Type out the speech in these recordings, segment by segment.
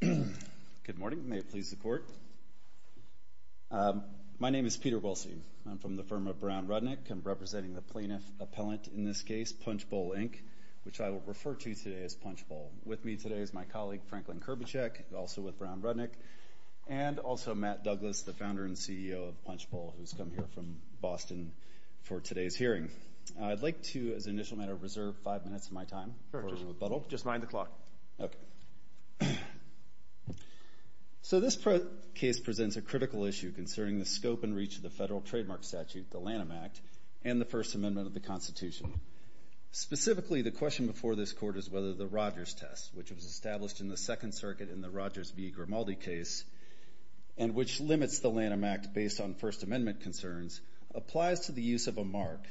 Good morning. May it please the Court. My name is Peter Wilson. I'm from the firm of Brown Rudnick. I'm representing the plaintiff appellant in this case, Punchbowl, Inc., which I will refer to today as Punchbowl. With me today is my colleague Franklin Kurbacek, also with Brown Rudnick, and also Matt Douglas, the founder and CEO of Punchbowl, who's come here from Boston for today's hearing. I'd like to, as an initial matter of reserve, five minutes of my time in order to rebuttal. Just mind the clock. Okay. So this case presents a critical issue concerning the scope and reach of the federal trademark statute, the Lanham Act, and the First Amendment of the Constitution. Specifically, the question before this Court is whether the Rogers test, which was established in the Second Circuit in the Rogers v. Grimaldi case, and which limits the Lanham Act based on First Amendment concerns, applies to the use of a mark,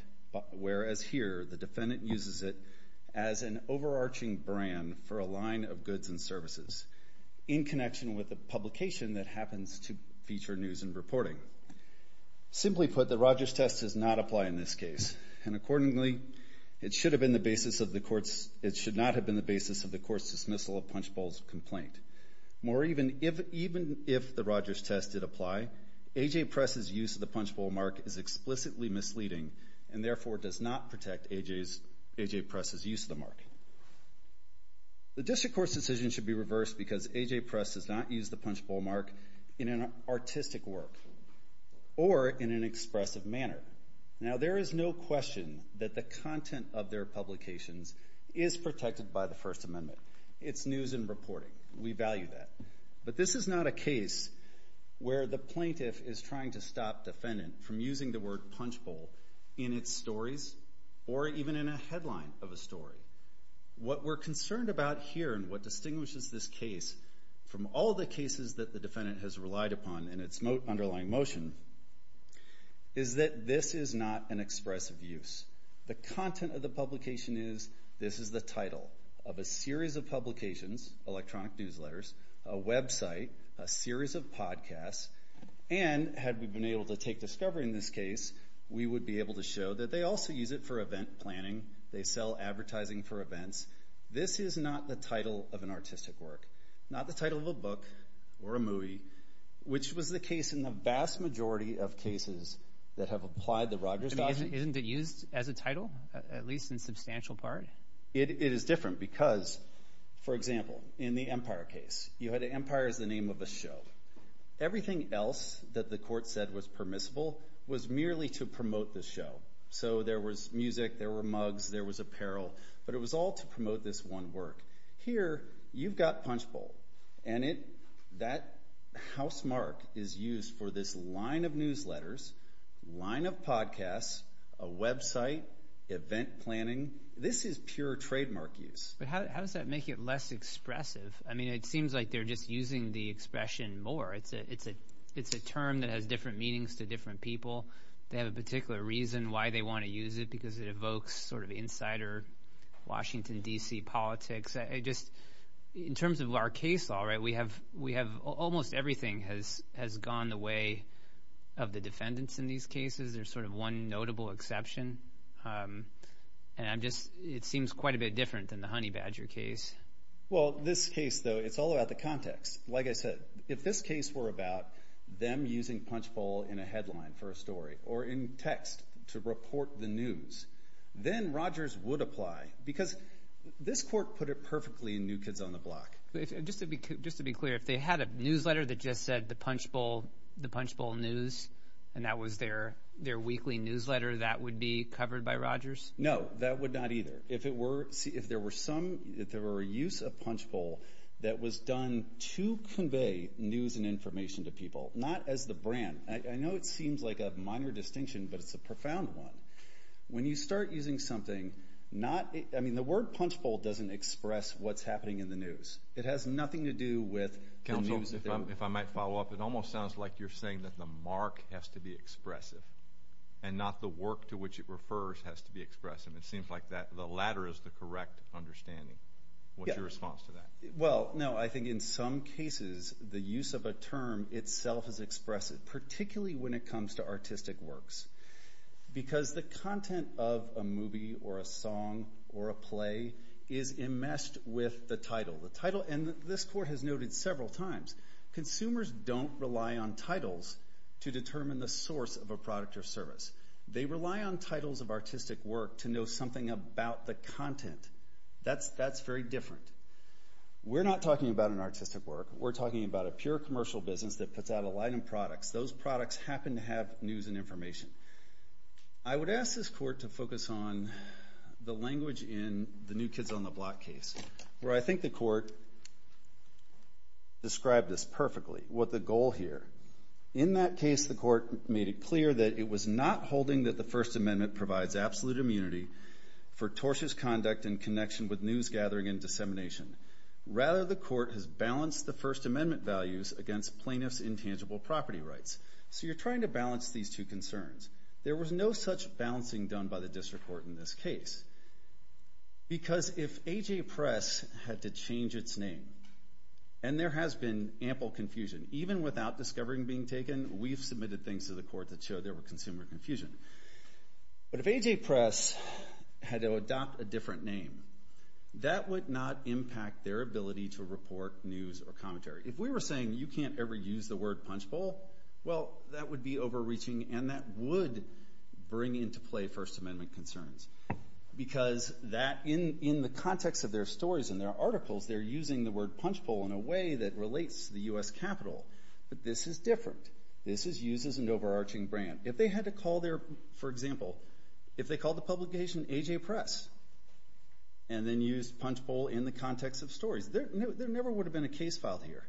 whereas here the defendant uses it as an overarching brand for a line of goods and services in connection with the publication that happens to feature news and reporting. Simply put, the Rogers test does not apply in this case, and accordingly, it should not have been the basis of the Court's dismissal of Punchbowl's complaint. Moreover, even if the Rogers test did apply, A.J. Press's use of the Punchbowl mark is explicitly misleading and therefore does not protect A.J. Press's use of the mark. The District Court's decision should be reversed because A.J. Press does not use the Punchbowl mark in an artistic work or in an expressive manner. Now, there is no question that the content of their publications is protected by the First Amendment. It's news and reporting. We value that. But this is not a case where the plaintiff is trying to stop the defendant from using the word Punchbowl in its stories or even in a headline of a story. What we're concerned about here and what distinguishes this case from all the cases that the defendant has relied upon in its underlying motion is that this is not an expressive use. The content of the publication is, this is the title of a series of publications, electronic newsletters, a website, a series of podcasts, and had we been able to take discovery in this case, we would be able to show that they also use it for event planning. They sell advertising for events. This is not the title of an artistic work, not the title of a book or a movie, which was the case in the vast majority of cases that have applied the Rogers doxy. Isn't it used as a title, at least in a substantial part? It is different because, for example, in the Empire case, you had Empire as the name of a show. Everything else that the court said was permissible was merely to promote the show. So there was music, there were mugs, there was apparel, but it was all to promote this one work. Here, you've got Punchbowl, and that housemark is used for this line of pure trademark use. But how does that make it less expressive? It seems like they're just using the expression more. It's a term that has different meanings to different people. They have a particular reason why they want to use it, because it evokes insider Washington, D.C. politics. In terms of our case law, almost everything has gone the way of the defendants in these cases. It seems quite a bit different than the Honey Badger case. This case, though, it's all about the context. Like I said, if this case were about them using Punchbowl in a headline for a story, or in text to report the news, then Rogers would apply, because this court put it perfectly in New Kids on the Block. Just to be clear, if they had a newsletter that just said, The Punchbowl News, and that was their weekly newsletter, that would be covered by Rogers? No, that would not either. If there were a use of Punchbowl that was done to convey news and information to people, not as the brand. I know it seems like a minor distinction, but it's a profound one. When you start using something, the word Punchbowl doesn't express what's happening in the news. It has nothing to do with the news. If I might follow up, it almost sounds like you're saying that the mark has to be expressive, and not the work to which it refers has to be expressive. It seems like the latter is the correct understanding. What's your response to that? Well, I think in some cases, the use of a term itself is expressive, particularly when it comes to artistic works, because the content of a movie, or a song, or a play is enmeshed with the title. The title, and this court has noted several times, consumers don't rely on titles to determine the source of a product or service. They rely on titles of artistic work to know something about the content. That's very different. We're not talking about an artistic work. We're talking about a pure commercial business that puts out a line of products. Those products happen to have news and information. I would ask this court to focus on the language in the New Kids on the Block case, where I In that case, the court made it clear that it was not holding that the First Amendment provides absolute immunity for tortious conduct in connection with news gathering and dissemination. Rather, the court has balanced the First Amendment values against plaintiffs' intangible property rights. So you're trying to balance these two concerns. There was no such balancing done by the district court in this case, because if AJ Press had to change its name, and there has been ample confusion, even without discovering being taken, we've submitted things to the court that show there were consumer confusion. But if AJ Press had to adopt a different name, that would not impact their ability to report news or commentary. If we were saying, you can't ever use the word punch bowl, well, that would be overreaching, and that would bring into play First Amendment concerns. Because in the context of their stories and their articles, they're using the word punch bowl in a way that relates to the U.S. Capitol. But this is different. This uses an overarching brand. If they had to call their, for example, if they called the publication AJ Press, and then used punch bowl in the context of stories, there never would have been a case filed here.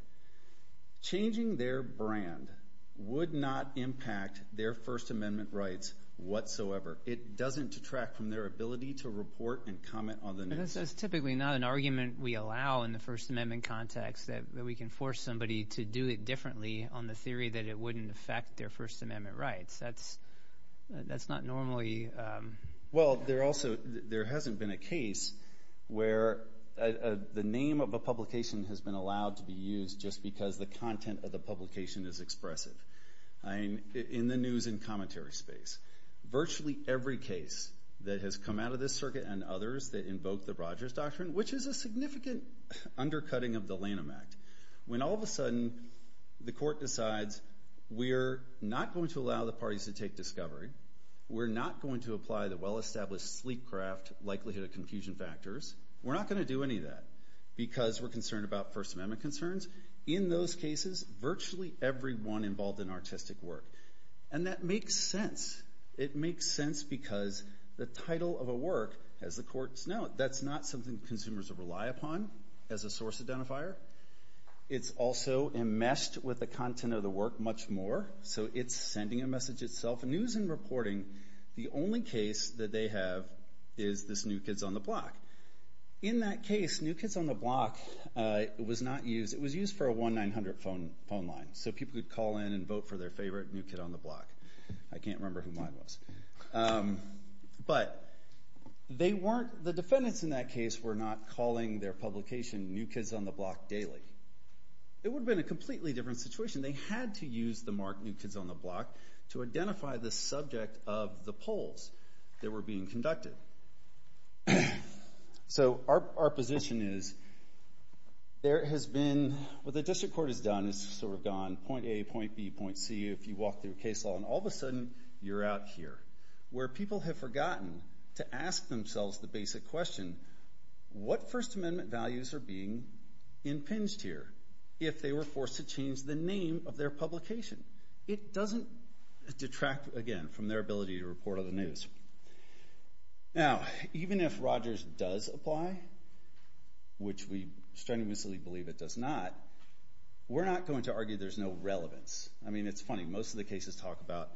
Changing their brand would not impact their First Amendment rights whatsoever. It doesn't detract from their ability to report and comment on the news. But that's typically not an argument we allow in the First Amendment context, that we can force somebody to do it differently on the theory that it wouldn't affect their First Amendment rights. That's not normally... Well, there also, there hasn't been a case where the name of a publication has been allowed to be used just because the content of the publication is expressive. In the news and in the press, that has come out of this circuit and others that invoke the Rogers Doctrine, which is a significant undercutting of the Lanham Act. When all of a sudden the court decides we're not going to allow the parties to take discovery, we're not going to apply the well-established sleek craft likelihood of confusion factors, we're not going to do any of that because we're concerned about First Amendment concerns. In those cases, virtually everyone involved in artistic work. And that makes sense. It makes sense because the title of a work, as the courts note, that's not something consumers rely upon as a source identifier. It's also enmeshed with the content of the work much more, so it's sending a message itself. News and reporting, the only case that they have is this New Kids on the Block. In that case, New Kids on the Block was not used. It was used for a 1-900 phone line, so people could call in and vote for their favorite New Kid on the Block. I can't remember who mine was. But the defendants in that case were not calling their publication New Kids on the Block daily. It would have been a completely different situation. They had to use the mark New Kids on the Block to identify the subject of the polls that were being conducted. So our position is, there has been, what the district court has done, it's sort of gone point A, point B, point C, if you walk through case law, and all of a sudden you're out here. Where people have forgotten to ask themselves the basic question, what First Amendment values are being impinged here? If they were forced to change the name of their publication. It does apply, which we strenuously believe it does not. We're not going to argue there's no relevance. I mean, it's funny, most of the cases talk about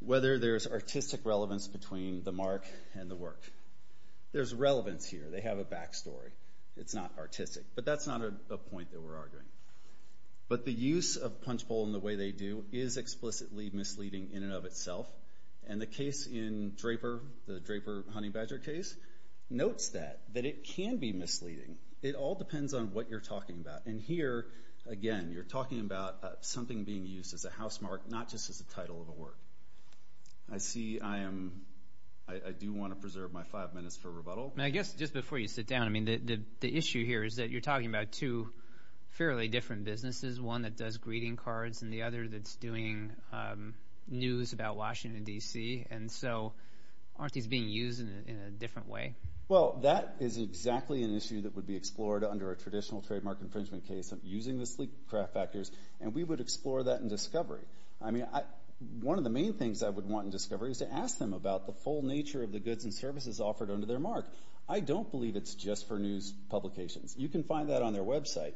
whether there's artistic relevance between the mark and the work. There's relevance here. They have a back story. It's not artistic. But that's not a point that we're arguing. But the use of Punchbowl in the way they do is explicitly misleading in and of itself. And the case in Draper, the it can be misleading. It all depends on what you're talking about. And here, again, you're talking about something being used as a housemark, not just as a title of a work. I see I am, I do want to preserve my five minutes for rebuttal. I guess just before you sit down, I mean, the issue here is that you're talking about two fairly different businesses, one that does greeting cards and the other that's doing news about Washington, D.C. And so, aren't these being used in a different way? Well, that is exactly an issue that would be explored under a traditional trademark infringement case using the sleek craft factors. And we would explore that in Discovery. I mean, one of the main things I would want in Discovery is to ask them about the full nature of the goods and services offered under their mark. I don't believe it's just for news publications. You can find that on their website.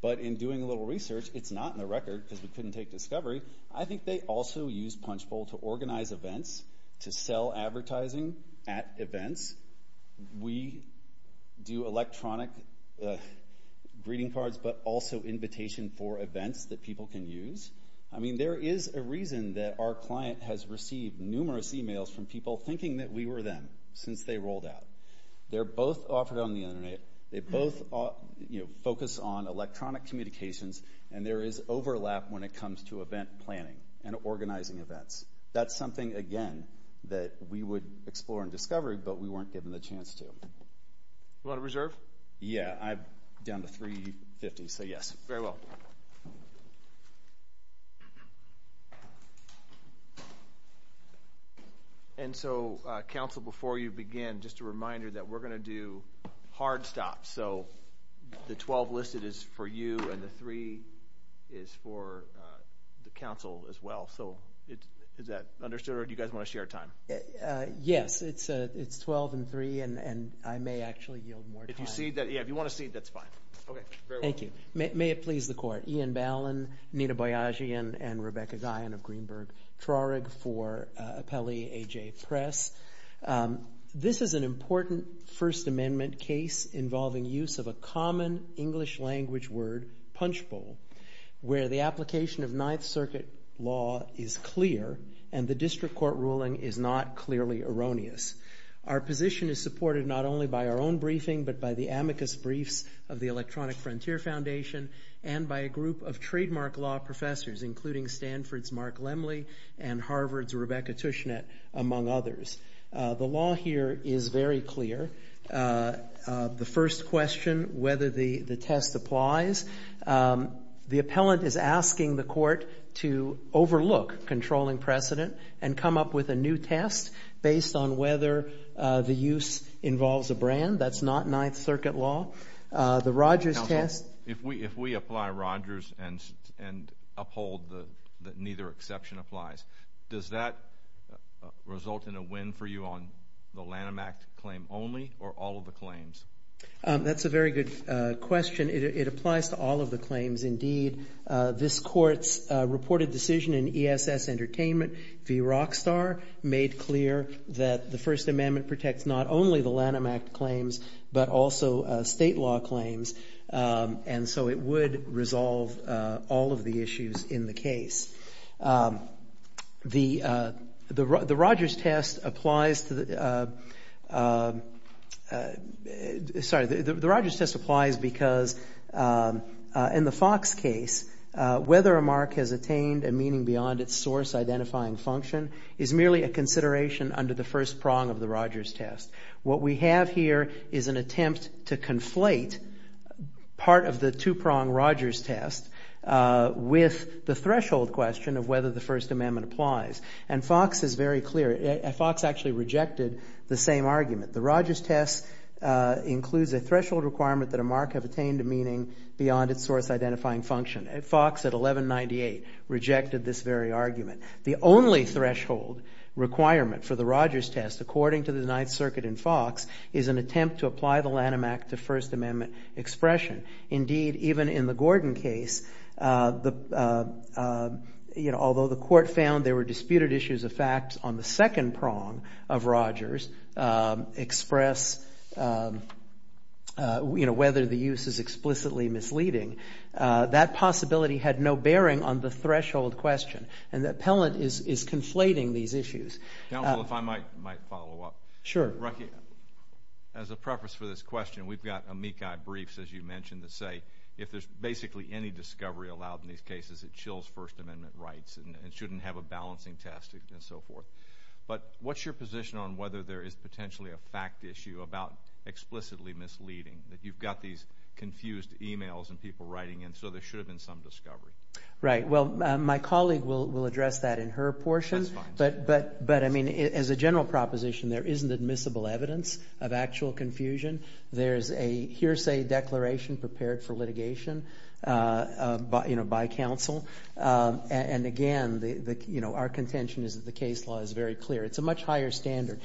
But in doing a little research, it's not in the record because we couldn't take Discovery. I think they also use Punchbowl to organize events, to sell advertising at events. We do electronic greeting cards, but also invitation for events that people can use. I mean, there is a reason that our client has received numerous emails from people thinking that we were them since they rolled out. They're both offered on the internet. They both focus on electronic communications, and there is something again that we would explore in Discovery, but we weren't given the chance to. You want to reserve? Yeah, I'm down to $350,000, so yes. And so, Council, before you begin, just a reminder that we're going to do hard stops. So the 12 listed is for you, and the 3 is for the Council as well. So is that okay? Yes, it's 12 and 3, and I may actually yield more time. Yeah, if you want to cede, that's fine. Thank you. May it please the Court. Ian Ballin, Nina Boyagi, and Rebecca Guyon of Greenberg Traurig for Appellee A.J. Press. This is an important First Amendment case involving use of a common English language word, Punchbowl, where the application of Ninth Circuit law is clear, and the district court ruling is not clearly erroneous. Our position is supported not only by our own briefing, but by the amicus briefs of the Electronic Frontier Foundation, and by a group of trademark law professors, including Stanford's Mark Lemley and Harvard's Rebecca Tushnet, among others. The law here is very clear. The first question, whether the test applies, the appellant is asking the court to overlook controlling precedent and come up with a new test based on whether the use involves a brand. That's not Ninth Circuit law. The Rogers test... Counsel, if we apply Rogers and uphold that neither exception applies, does that result in a win for you on the Lanham Act claim only, or all of the claims? That's a very good question. It applies to all of the claims, indeed. This court's reported decision in ESS Entertainment v. Rockstar made clear that the First Amendment protects not only the Lanham Act claims, but also state law claims, and so it would resolve all of the issues in the case. The Rogers test applies to... The Rogers test applies because, in the Fox case, whether a mark has attained a meaning beyond its source-identifying function is merely a consideration under the first prong of the Rogers test. What we have here is an attempt to conflate part of the two-prong Rogers test with the threshold question of whether the First Amendment applies, and Fox is very clear. Fox actually rejected the same argument. The Rogers test includes a threshold requirement that a mark have attained a meaning beyond its source-identifying function. Fox at 1198 rejected this very argument. The only threshold requirement for the Rogers test, according to the Ninth Circuit in Fox, is an attempt to apply the Lanham Act to First Amendment expression. Indeed, even in the Gordon case, although the court found there were disputed issues of facts on the second prong of Rogers express, you know, whether the use is explicitly misleading, that possibility had no bearing on the threshold question, and the appellant is conflating these issues. Counsel, if I might follow up. Sure. As a preface for this question, we've got amici briefs, as you mentioned, that say if there's basically any discovery allowed in these cases, it chills First Amendment rights and shouldn't have a balancing test and so forth. But what's your position on whether there is potentially a fact issue about explicitly misleading, that you've got these confused emails and people writing in, so there should have been some discovery? Right. Well, my colleague will address that in her portion, but I mean, as a general proposition, there isn't admissible evidence of actual confusion. There's a hearsay declaration prepared for litigation, you know, by counsel. And again, you know, our contention is that the case law is very clear. It's a much higher standard.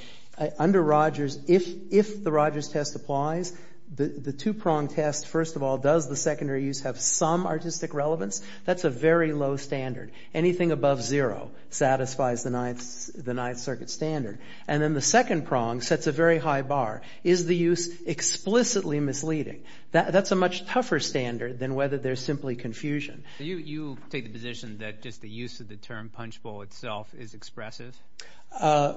Under Rogers, if the Rogers test applies, the two-prong test, first of all, does the secondary use have some artistic relevance? That's a very low standard. Anything above zero satisfies the Ninth Circuit standard. And then the second prong sets a very high bar. Is the use explicitly misleading? That's a much tougher standard than whether there's simply confusion. You take the position that just the use of the term punchbowl itself is expressive?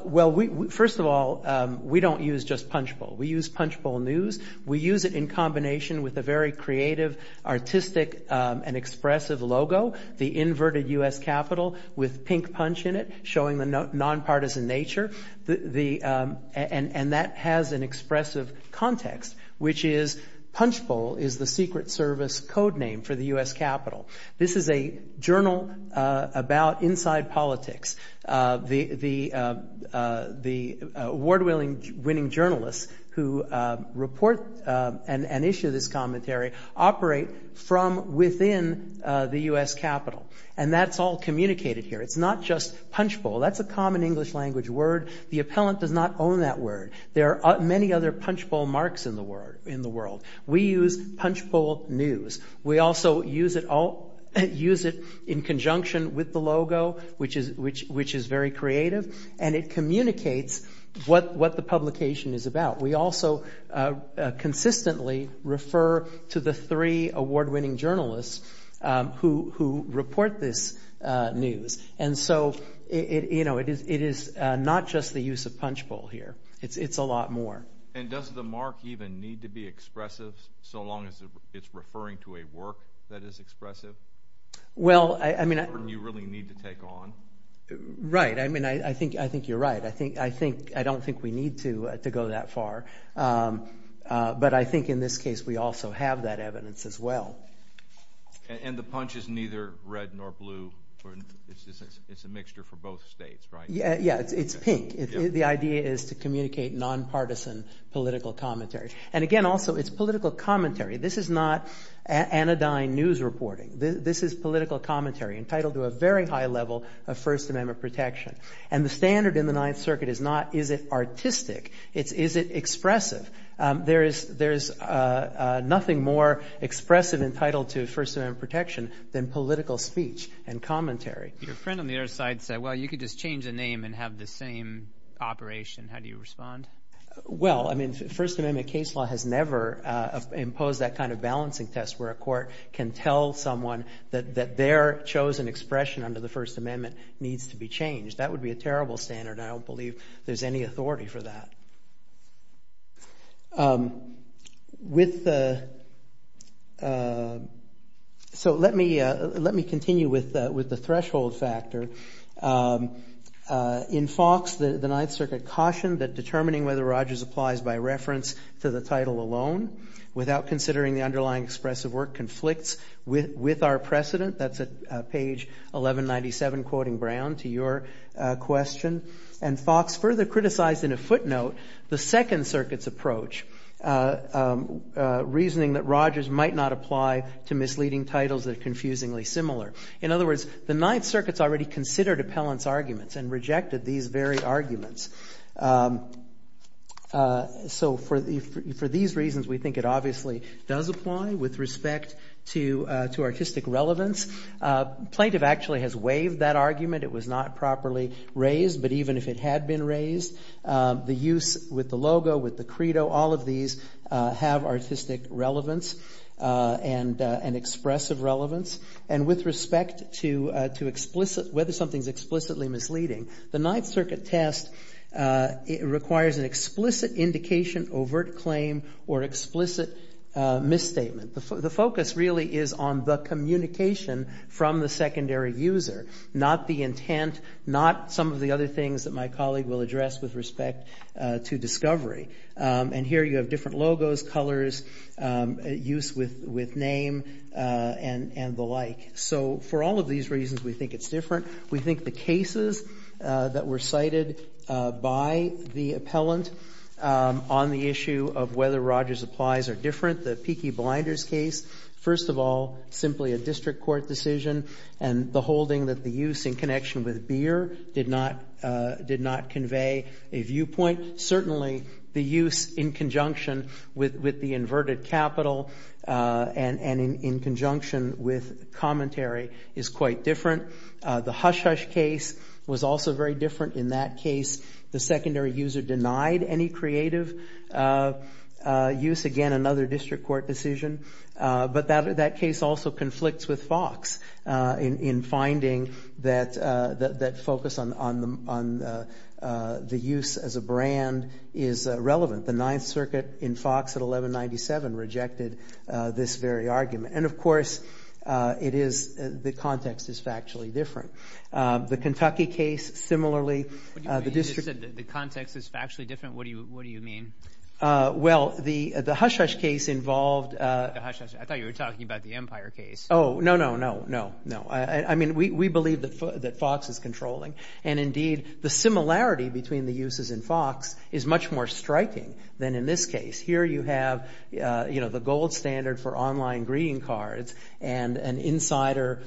Well, first of all, we don't use just punchbowl. We use punchbowl news. We use it in combination with a very creative, artistic, and expressive logo, the inverted U.S. capital with pink punch in it, showing the nonpartisan nature. And that has an expressive context, which is punchbowl is the Secret Service codename for the U.S. capital. This is a journal about inside politics. The award-winning journalists who report and issue this commentary operate from within the U.S. capital. And that's all communicated here. It's not just punchbowl. That's a common English language word. The appellant does not own that word. There are many other punchbowl marks in the world. We use punchbowl news. We also use it in conjunction with the logo, which is very creative, and it communicates what the publication is about. We also consistently refer to the three award-winning journalists who report this news. And so it is not just the use of punchbowl here. It's a lot more. And does the mark even need to be expressive, so long as it's referring to a work that is expressive? Well, I mean... ...you really need to take on? Right. I mean, I think you're right. I don't think we need to go that far. But I think in this case, we also have that evidence as well. And the punch is neither red nor blue. It's a mixture for both states, right? Yeah, it's pink. The idea is to communicate nonpartisan political commentary. And again, also, it's political commentary. This is not anodyne news reporting. This is political commentary entitled to a very high level of First Amendment protection. And the standard in the Ninth Circuit is not, is it artistic? It's, is it expressive? There's nothing more expressive entitled to First Amendment protection than political speech and commentary. Your friend on the other side said, well, you could just change the name and have the same operation. How do you respond? Well, I mean, First Amendment case law has never imposed that kind of balancing test where a court can tell someone that their chosen expression under the First Amendment needs to be changed. That would be a terrible standard. I don't believe there's any authority for that. So, let me continue with the threshold factor. In Fox, the Ninth Circuit cautioned that determining whether Rogers applies by reference to the title alone, without considering the underlying expressive work, conflicts with our precedent. That's at page 1197, quoting Brown, to your question. And Fox further criticized in a footnote, the Second Circuit's approach, reasoning that Rogers might not apply to misleading titles that are confusingly similar. In other words, the Ninth Circuit's already considered appellant's arguments and rejected these very arguments. So, for these reasons, we think it obviously does apply with respect to artistic relevance. Plaintiff actually has waived that argument. It was not properly raised, but even if it had been raised, the use with the logo, with the credo, all of these have artistic relevance and expressive relevance. And with respect to whether something's explicitly misleading, the Ninth Circuit test requires an explicit indication, overt claim, or explicit misstatement. The focus really is on the communication from the secondary user, not the intent, not some of the other things that my colleague will address with respect to discovery. And here, you have different logos, colors, use with name, and the like. So, for all of these reasons, we think it's different. We think the cases that were cited by the appellant on the issue of whether Rogers applies are different. The Peaky Blinders case, first of all, simply a district court decision, and the holding that the use in connection with beer did not convey a viewpoint. Certainly, the use in conjunction with the inverted capital, and in conjunction with commentary, is quite different. The Hush Hush case was also very different. In that case, the secondary user denied any creative use. Again, another district court decision. But that case also conflicts with Fox in finding that focus on the use as a brand is relevant. The Ninth Circuit in Fox at 1197 rejected this very argument. And of course, the Kentucky case, similarly, the district court decision. You said the context is factually different. What do you mean? Well, the Hush Hush case involved... The Hush Hush. I thought you were talking about the Empire case. Oh, no, no, no, no, no. I mean, we believe that Fox is controlling. And indeed, the similarity between the uses in Fox is much more striking than in this case. Here, you have the gold standard for online greeting cards, and an insider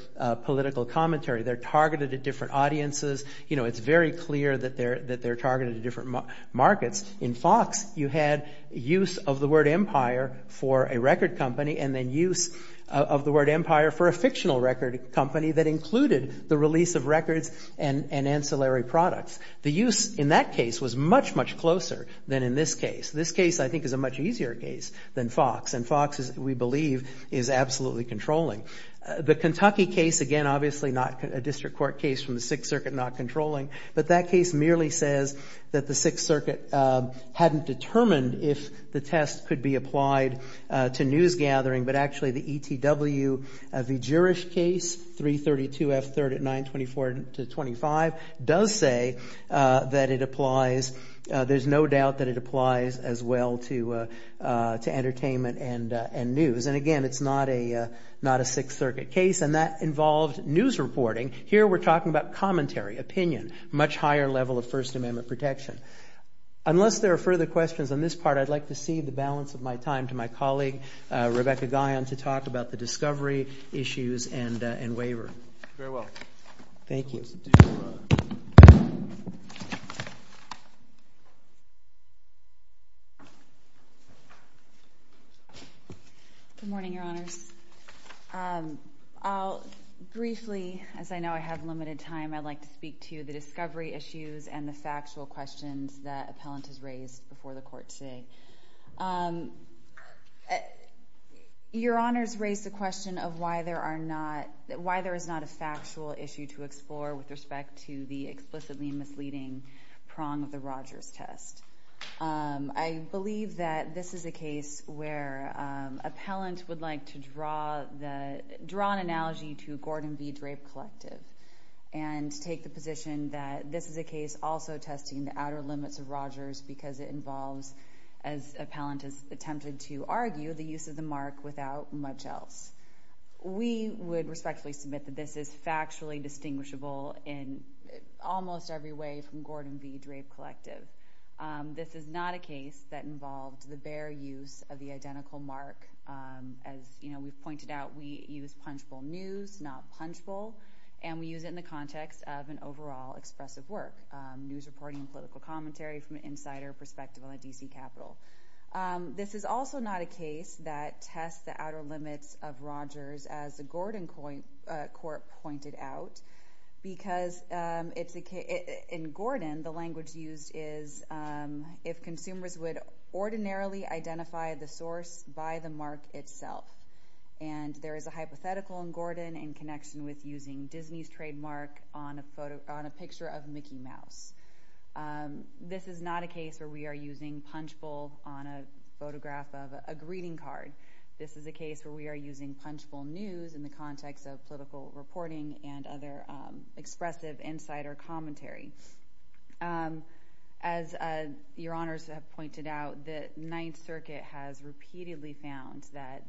political commentary. They're targeted at different audiences. It's very clear that they're targeted at different markets. In Fox, you had use of the word empire for a record company, and then use of the word empire for a fictional record company that included the release of records and ancillary products. The use in that case was much, much closer than in this case. This case, I think, is a much easier case than Fox. And Fox, we believe, is absolutely controlling. The Kentucky case, again, obviously not a district court case from the Sixth Circuit, not controlling. But that case merely says that the Sixth Circuit hadn't determined if the test could be applied to news gathering. But actually, the ETW, the Jewish case, 332 F. 3rd at 924 to 25, does say that it applies. There's no doubt that it applies as well to entertainment and news. And again, it's not a Sixth Circuit case, and that involved news reporting. Here, we're talking about commentary, opinion, much higher level of First Amendment protection. Unless there are further questions on this part, I'd like to cede the balance of my time to my colleague, Rebecca Guyon, to talk about the discovery issues and waiver. Thank you. Good morning, Your Honors. Briefly, as I know I have limited time, I'd like to speak to the discovery issues and the factual questions that appellant has raised before the court today. Your Honors raised the question of why there is not a factual issue to explore with respect to the explicitly misleading prong of the Rogers test. I believe that this is a case where appellant would like to draw an analogy to Gordon v. Drape Collective and take the position that this is a case also testing the outer limits of Rogers because it involves, as appellant has attempted to argue, the use of the mark without much else. We would respectfully submit that this is factually distinguishable in almost every way from Gordon v. Drape Collective. This is not a case that involved the bare use of the identical mark. As we've pointed out, we use punchable news, not punchable, and we use it in the context of an overall expressive work, news reporting and political commentary from an insider perspective on the D.C. Capitol. This is also not a case that tests the outer limits of Rogers, as the Gordon court pointed out, because it's a case that tests the outer limits of Rogers. In Gordon, the language used is if consumers would ordinarily identify the source by the mark itself, and there is a hypothetical in Gordon in connection with using Disney's trademark on a picture of Mickey Mouse. This is not a case where we are using punchable on a photograph of a greeting card. This is a case where we are using punchable news in the context of political reporting and other expressive insider commentary. As your honors have pointed out, the Ninth Circuit has repeatedly found that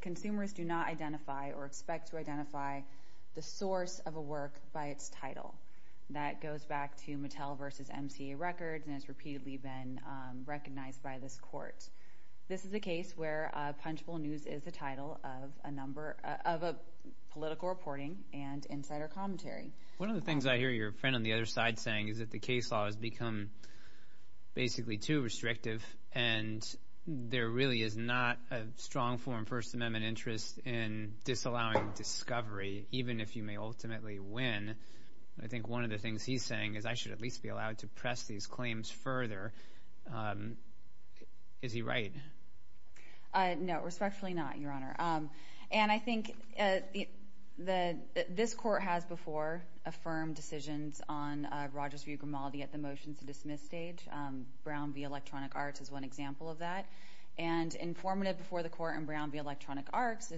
consumers do not identify or expect to identify the source of a work by its title. That goes back to Mattel v. MCA Records and has repeatedly been recognized by this court. This is a case where punchable news is the title of a political reporting and insider commentary. One of the things I hear your friend on the other side saying is that the case law has become basically too restrictive and there really is not a strong form First Amendment interest in disallowing discovery, even if you may ultimately win. I think one of the things he's saying is I should at least be allowed to press these claims further. Is he right? No, respectfully not, your honor. I think this court has before affirmed decisions on Rogers v. Grimaldi at the motion to dismiss stage. Brown v. Electronic Arts is one example of that. Informative before the court in Brown v. Electronic Arts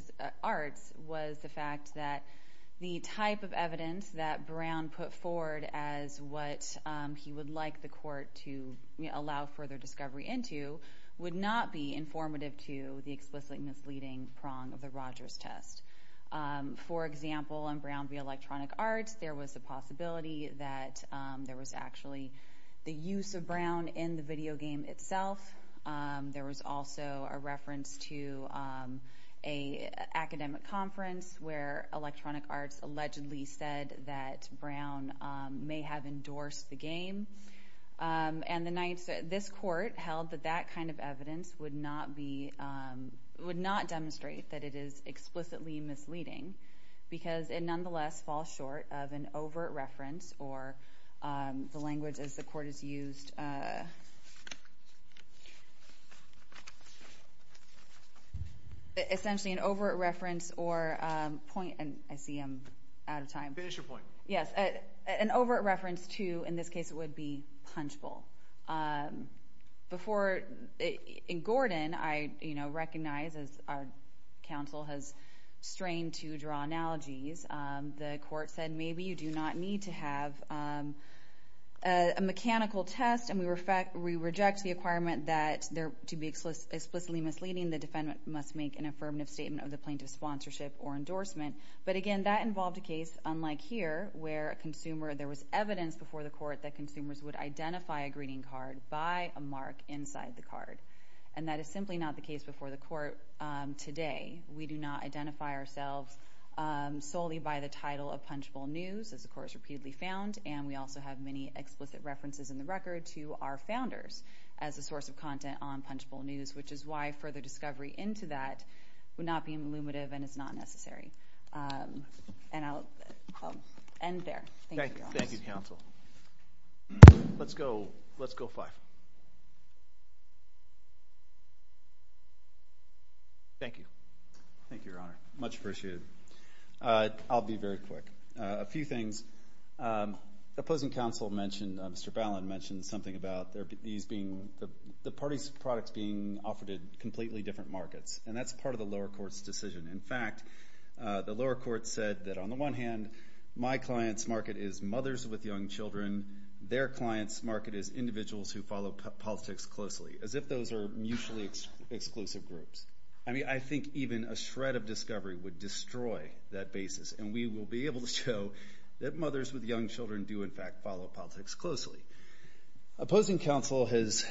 was the fact that the type of evidence that Brown put forward as what he would like the court to allow further discovery into would not be informative to the explicitly misleading prong of the Rogers test. For example, on Brown v. Electronic Arts, there was a possibility that there was actually the use of Brown in the video game itself. There was also a reference to an academic conference where Electronic Arts allegedly said that Brown may have endorsed the game. This court held that Brown v. Electronic Arts would not demonstrate that it is explicitly misleading because it nonetheless falls short of an overt reference or an overt reference to, in this case it would be punchable. Before in Gordon, I recognize as our counsel has strained to draw analogies, the court said maybe you do not need to have a mechanical test and we reject the requirement that to be explicitly misleading, the defendant must make an affirmative statement of the plaintiff's sponsorship or endorsement. But again, that involved a case unlike here where a consumer, there was evidence before the court that consumers would identify a greeting card by a mark in the side of the card. And that is simply not the case before the court today. We do not identify ourselves solely by the title of punchable news, as the court has repeatedly found, and we also have many explicit references in the record to our founders as a source of content on punchable news, which is why further discovery into that would not be illuminative and is not necessary. And I'll end there. Thank you. Thank you, counsel. Let's go, let's go five. Thank you. Thank you, Your Honor. Much appreciated. I'll be very quick. A few things. The opposing counsel mentioned, Mr. Ballin mentioned something about these being, the parties' products being offered in completely different markets, and that's part of the lower court's decision. In fact, the lower court said that on the one hand, my client's market is mothers with young children, their client's market is individuals who follow politics closely, as if those are mutually exclusive groups. I mean, I think even a shred of discovery would destroy that basis, and we will be able to show that mothers with young children do, in fact, follow politics closely. Opposing counsel has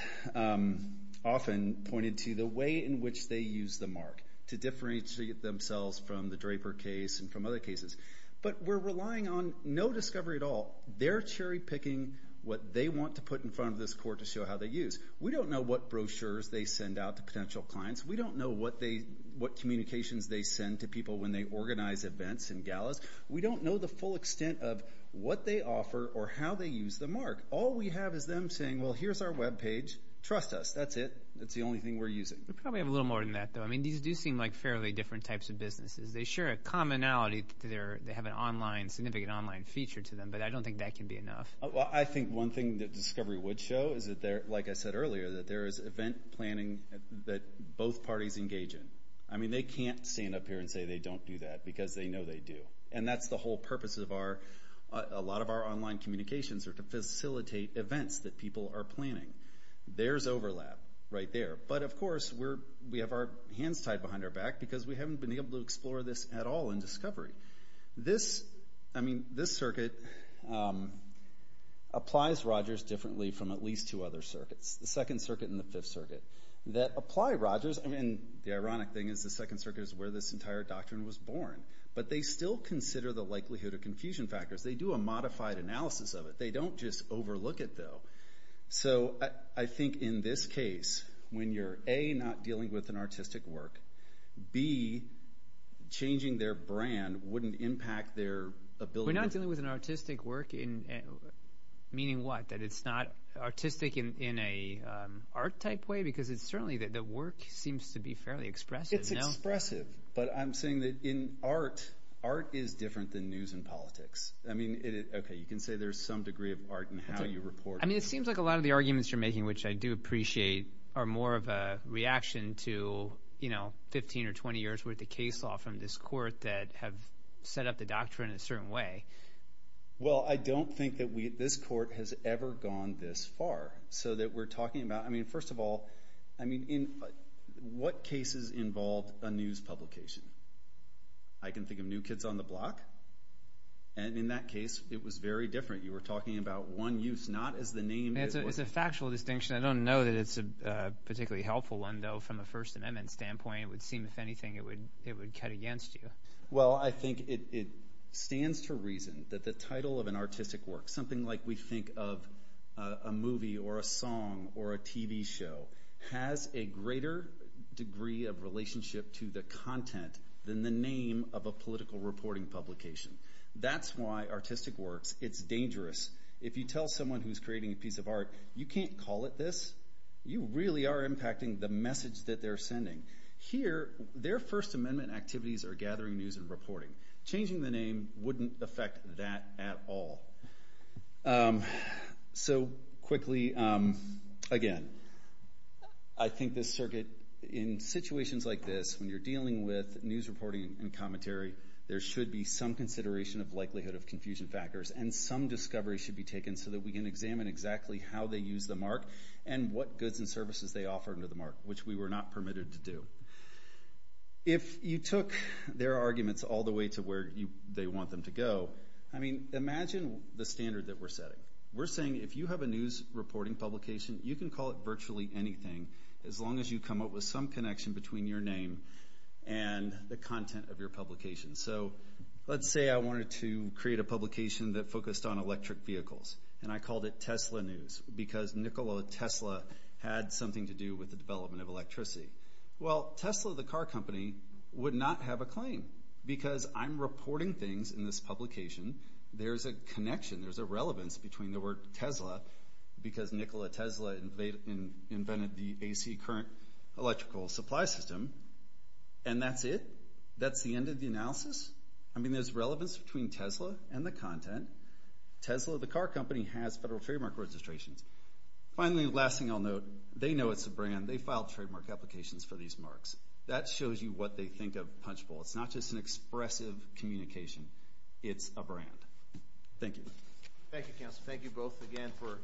often pointed to the way in which they use the mark to differentiate themselves from the Draper case and from other cases. But we're relying on no discovery at all. They're cherry-picking what they want to put in front of this court to show how they use. We don't know what brochures they send out to potential clients. We don't know what communications they send to people when they organize events and galas. We don't know the full extent of what they offer or how they use the mark. All we have is them saying, well, here's our web page. Trust us. That's it. That's the only thing we're using. We probably have a little more than that, though. I mean, these do seem like fairly different types of businesses. They share a commonality. They have an online, significant online feature to them, but I don't think that can be enough. I think one thing that discovery would show is that there, like I said earlier, that there is event planning that both parties engage in. I mean, they can't stand up here and say they don't do that, because they know they do. And that's the whole purpose of our, a lot of our online communications are to facilitate events that people are planning. There's overlap right there. But of course, we have our hands tied behind our back, because we haven't been able to explore this at all in discovery. This, I mean, this circuit applies Rogers differently from at least two other circuits, the Second Circuit and the Fifth Circuit, that apply Rogers. I mean, the ironic thing is the Second Circuit is where this entire doctrine was born. But they still consider the likelihood of confusion factors. They do a modified analysis of it. They don't just overlook it, though. So I think in this case, when you're, A, not dealing with an artistic work, B, changing their brand wouldn't impact their ability. We're not dealing with an artistic work in, meaning what? That it's not artistic in a art type way? Because it's certainly that the work seems to be fairly expressive. It's expressive. But I'm saying that in art, art is different than news and politics. I mean, okay, you can say there's some degree of art in how you report. I mean, it seems like a lot of the arguments you're making, which I do appreciate, are more of a reaction to, you know, 15 or 20 years worth of case law from this court that have set up the doctrine in a certain way. Well, I don't think that we, this court has ever gone this far. So that we're talking about, I mean, first of all, I mean, in what cases involved a news publication? I can think of New Kids on the Block. And in that case, it was very different. You were talking about one use, not as the name. It's a factual distinction. I don't know that it's a particularly helpful one, though, from a First Amendment standpoint, it would seem, if anything, it would, it would cut against you. Well, I think it stands to reason that the title of an artistic work, something like we think of a movie or a song or a TV show, has a greater degree of relationship to the content than the name of a political reporting publication. That's why artistic works, it's dangerous. If you tell someone who's creating a piece of art, you can't call it this. You really are impacting the message that they're sending. Here, their First Amendment activities are gathering news and reporting. Changing the name wouldn't affect that at all. So quickly, again, I think this circuit, in situations like this, when you're dealing with news reporting and commentary, there should be some consideration of likelihood of confusion factors and some discovery should be taken so that we can examine exactly how they use the mark and what goods and services they offer under the mark, which we were not permitted to do. If you took their arguments all the way to where they want them to go, I mean, imagine the standard that we're setting. We're saying if you have a news reporting publication, you can call it virtually anything as long as you come up with some connection between your name and the content of your publication. So let's say I wanted to create a publication that focused on electric vehicles and I called it Tesla News because Nikola Tesla had something to do with the development of electricity. Well, Tesla, the car company, would not have a claim because I'm reporting things in this publication. There's a connection. There's a relevance between the word Tesla because Nikola Tesla, they invented the AC current electrical supply system and that's it. That's the end of the analysis. I mean, there's relevance between Tesla and the content. Tesla, the car company, has federal trademark registrations. Finally, last thing I'll note, they know it's a brand. They filed trademark applications for these marks. That shows you what they think of Punchbowl. It's not just an expressive communication. It's a brand. Thank you. Thank you, counsel. Thank you both again for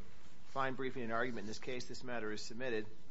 fine briefing and argument in this case. This matter is submitted.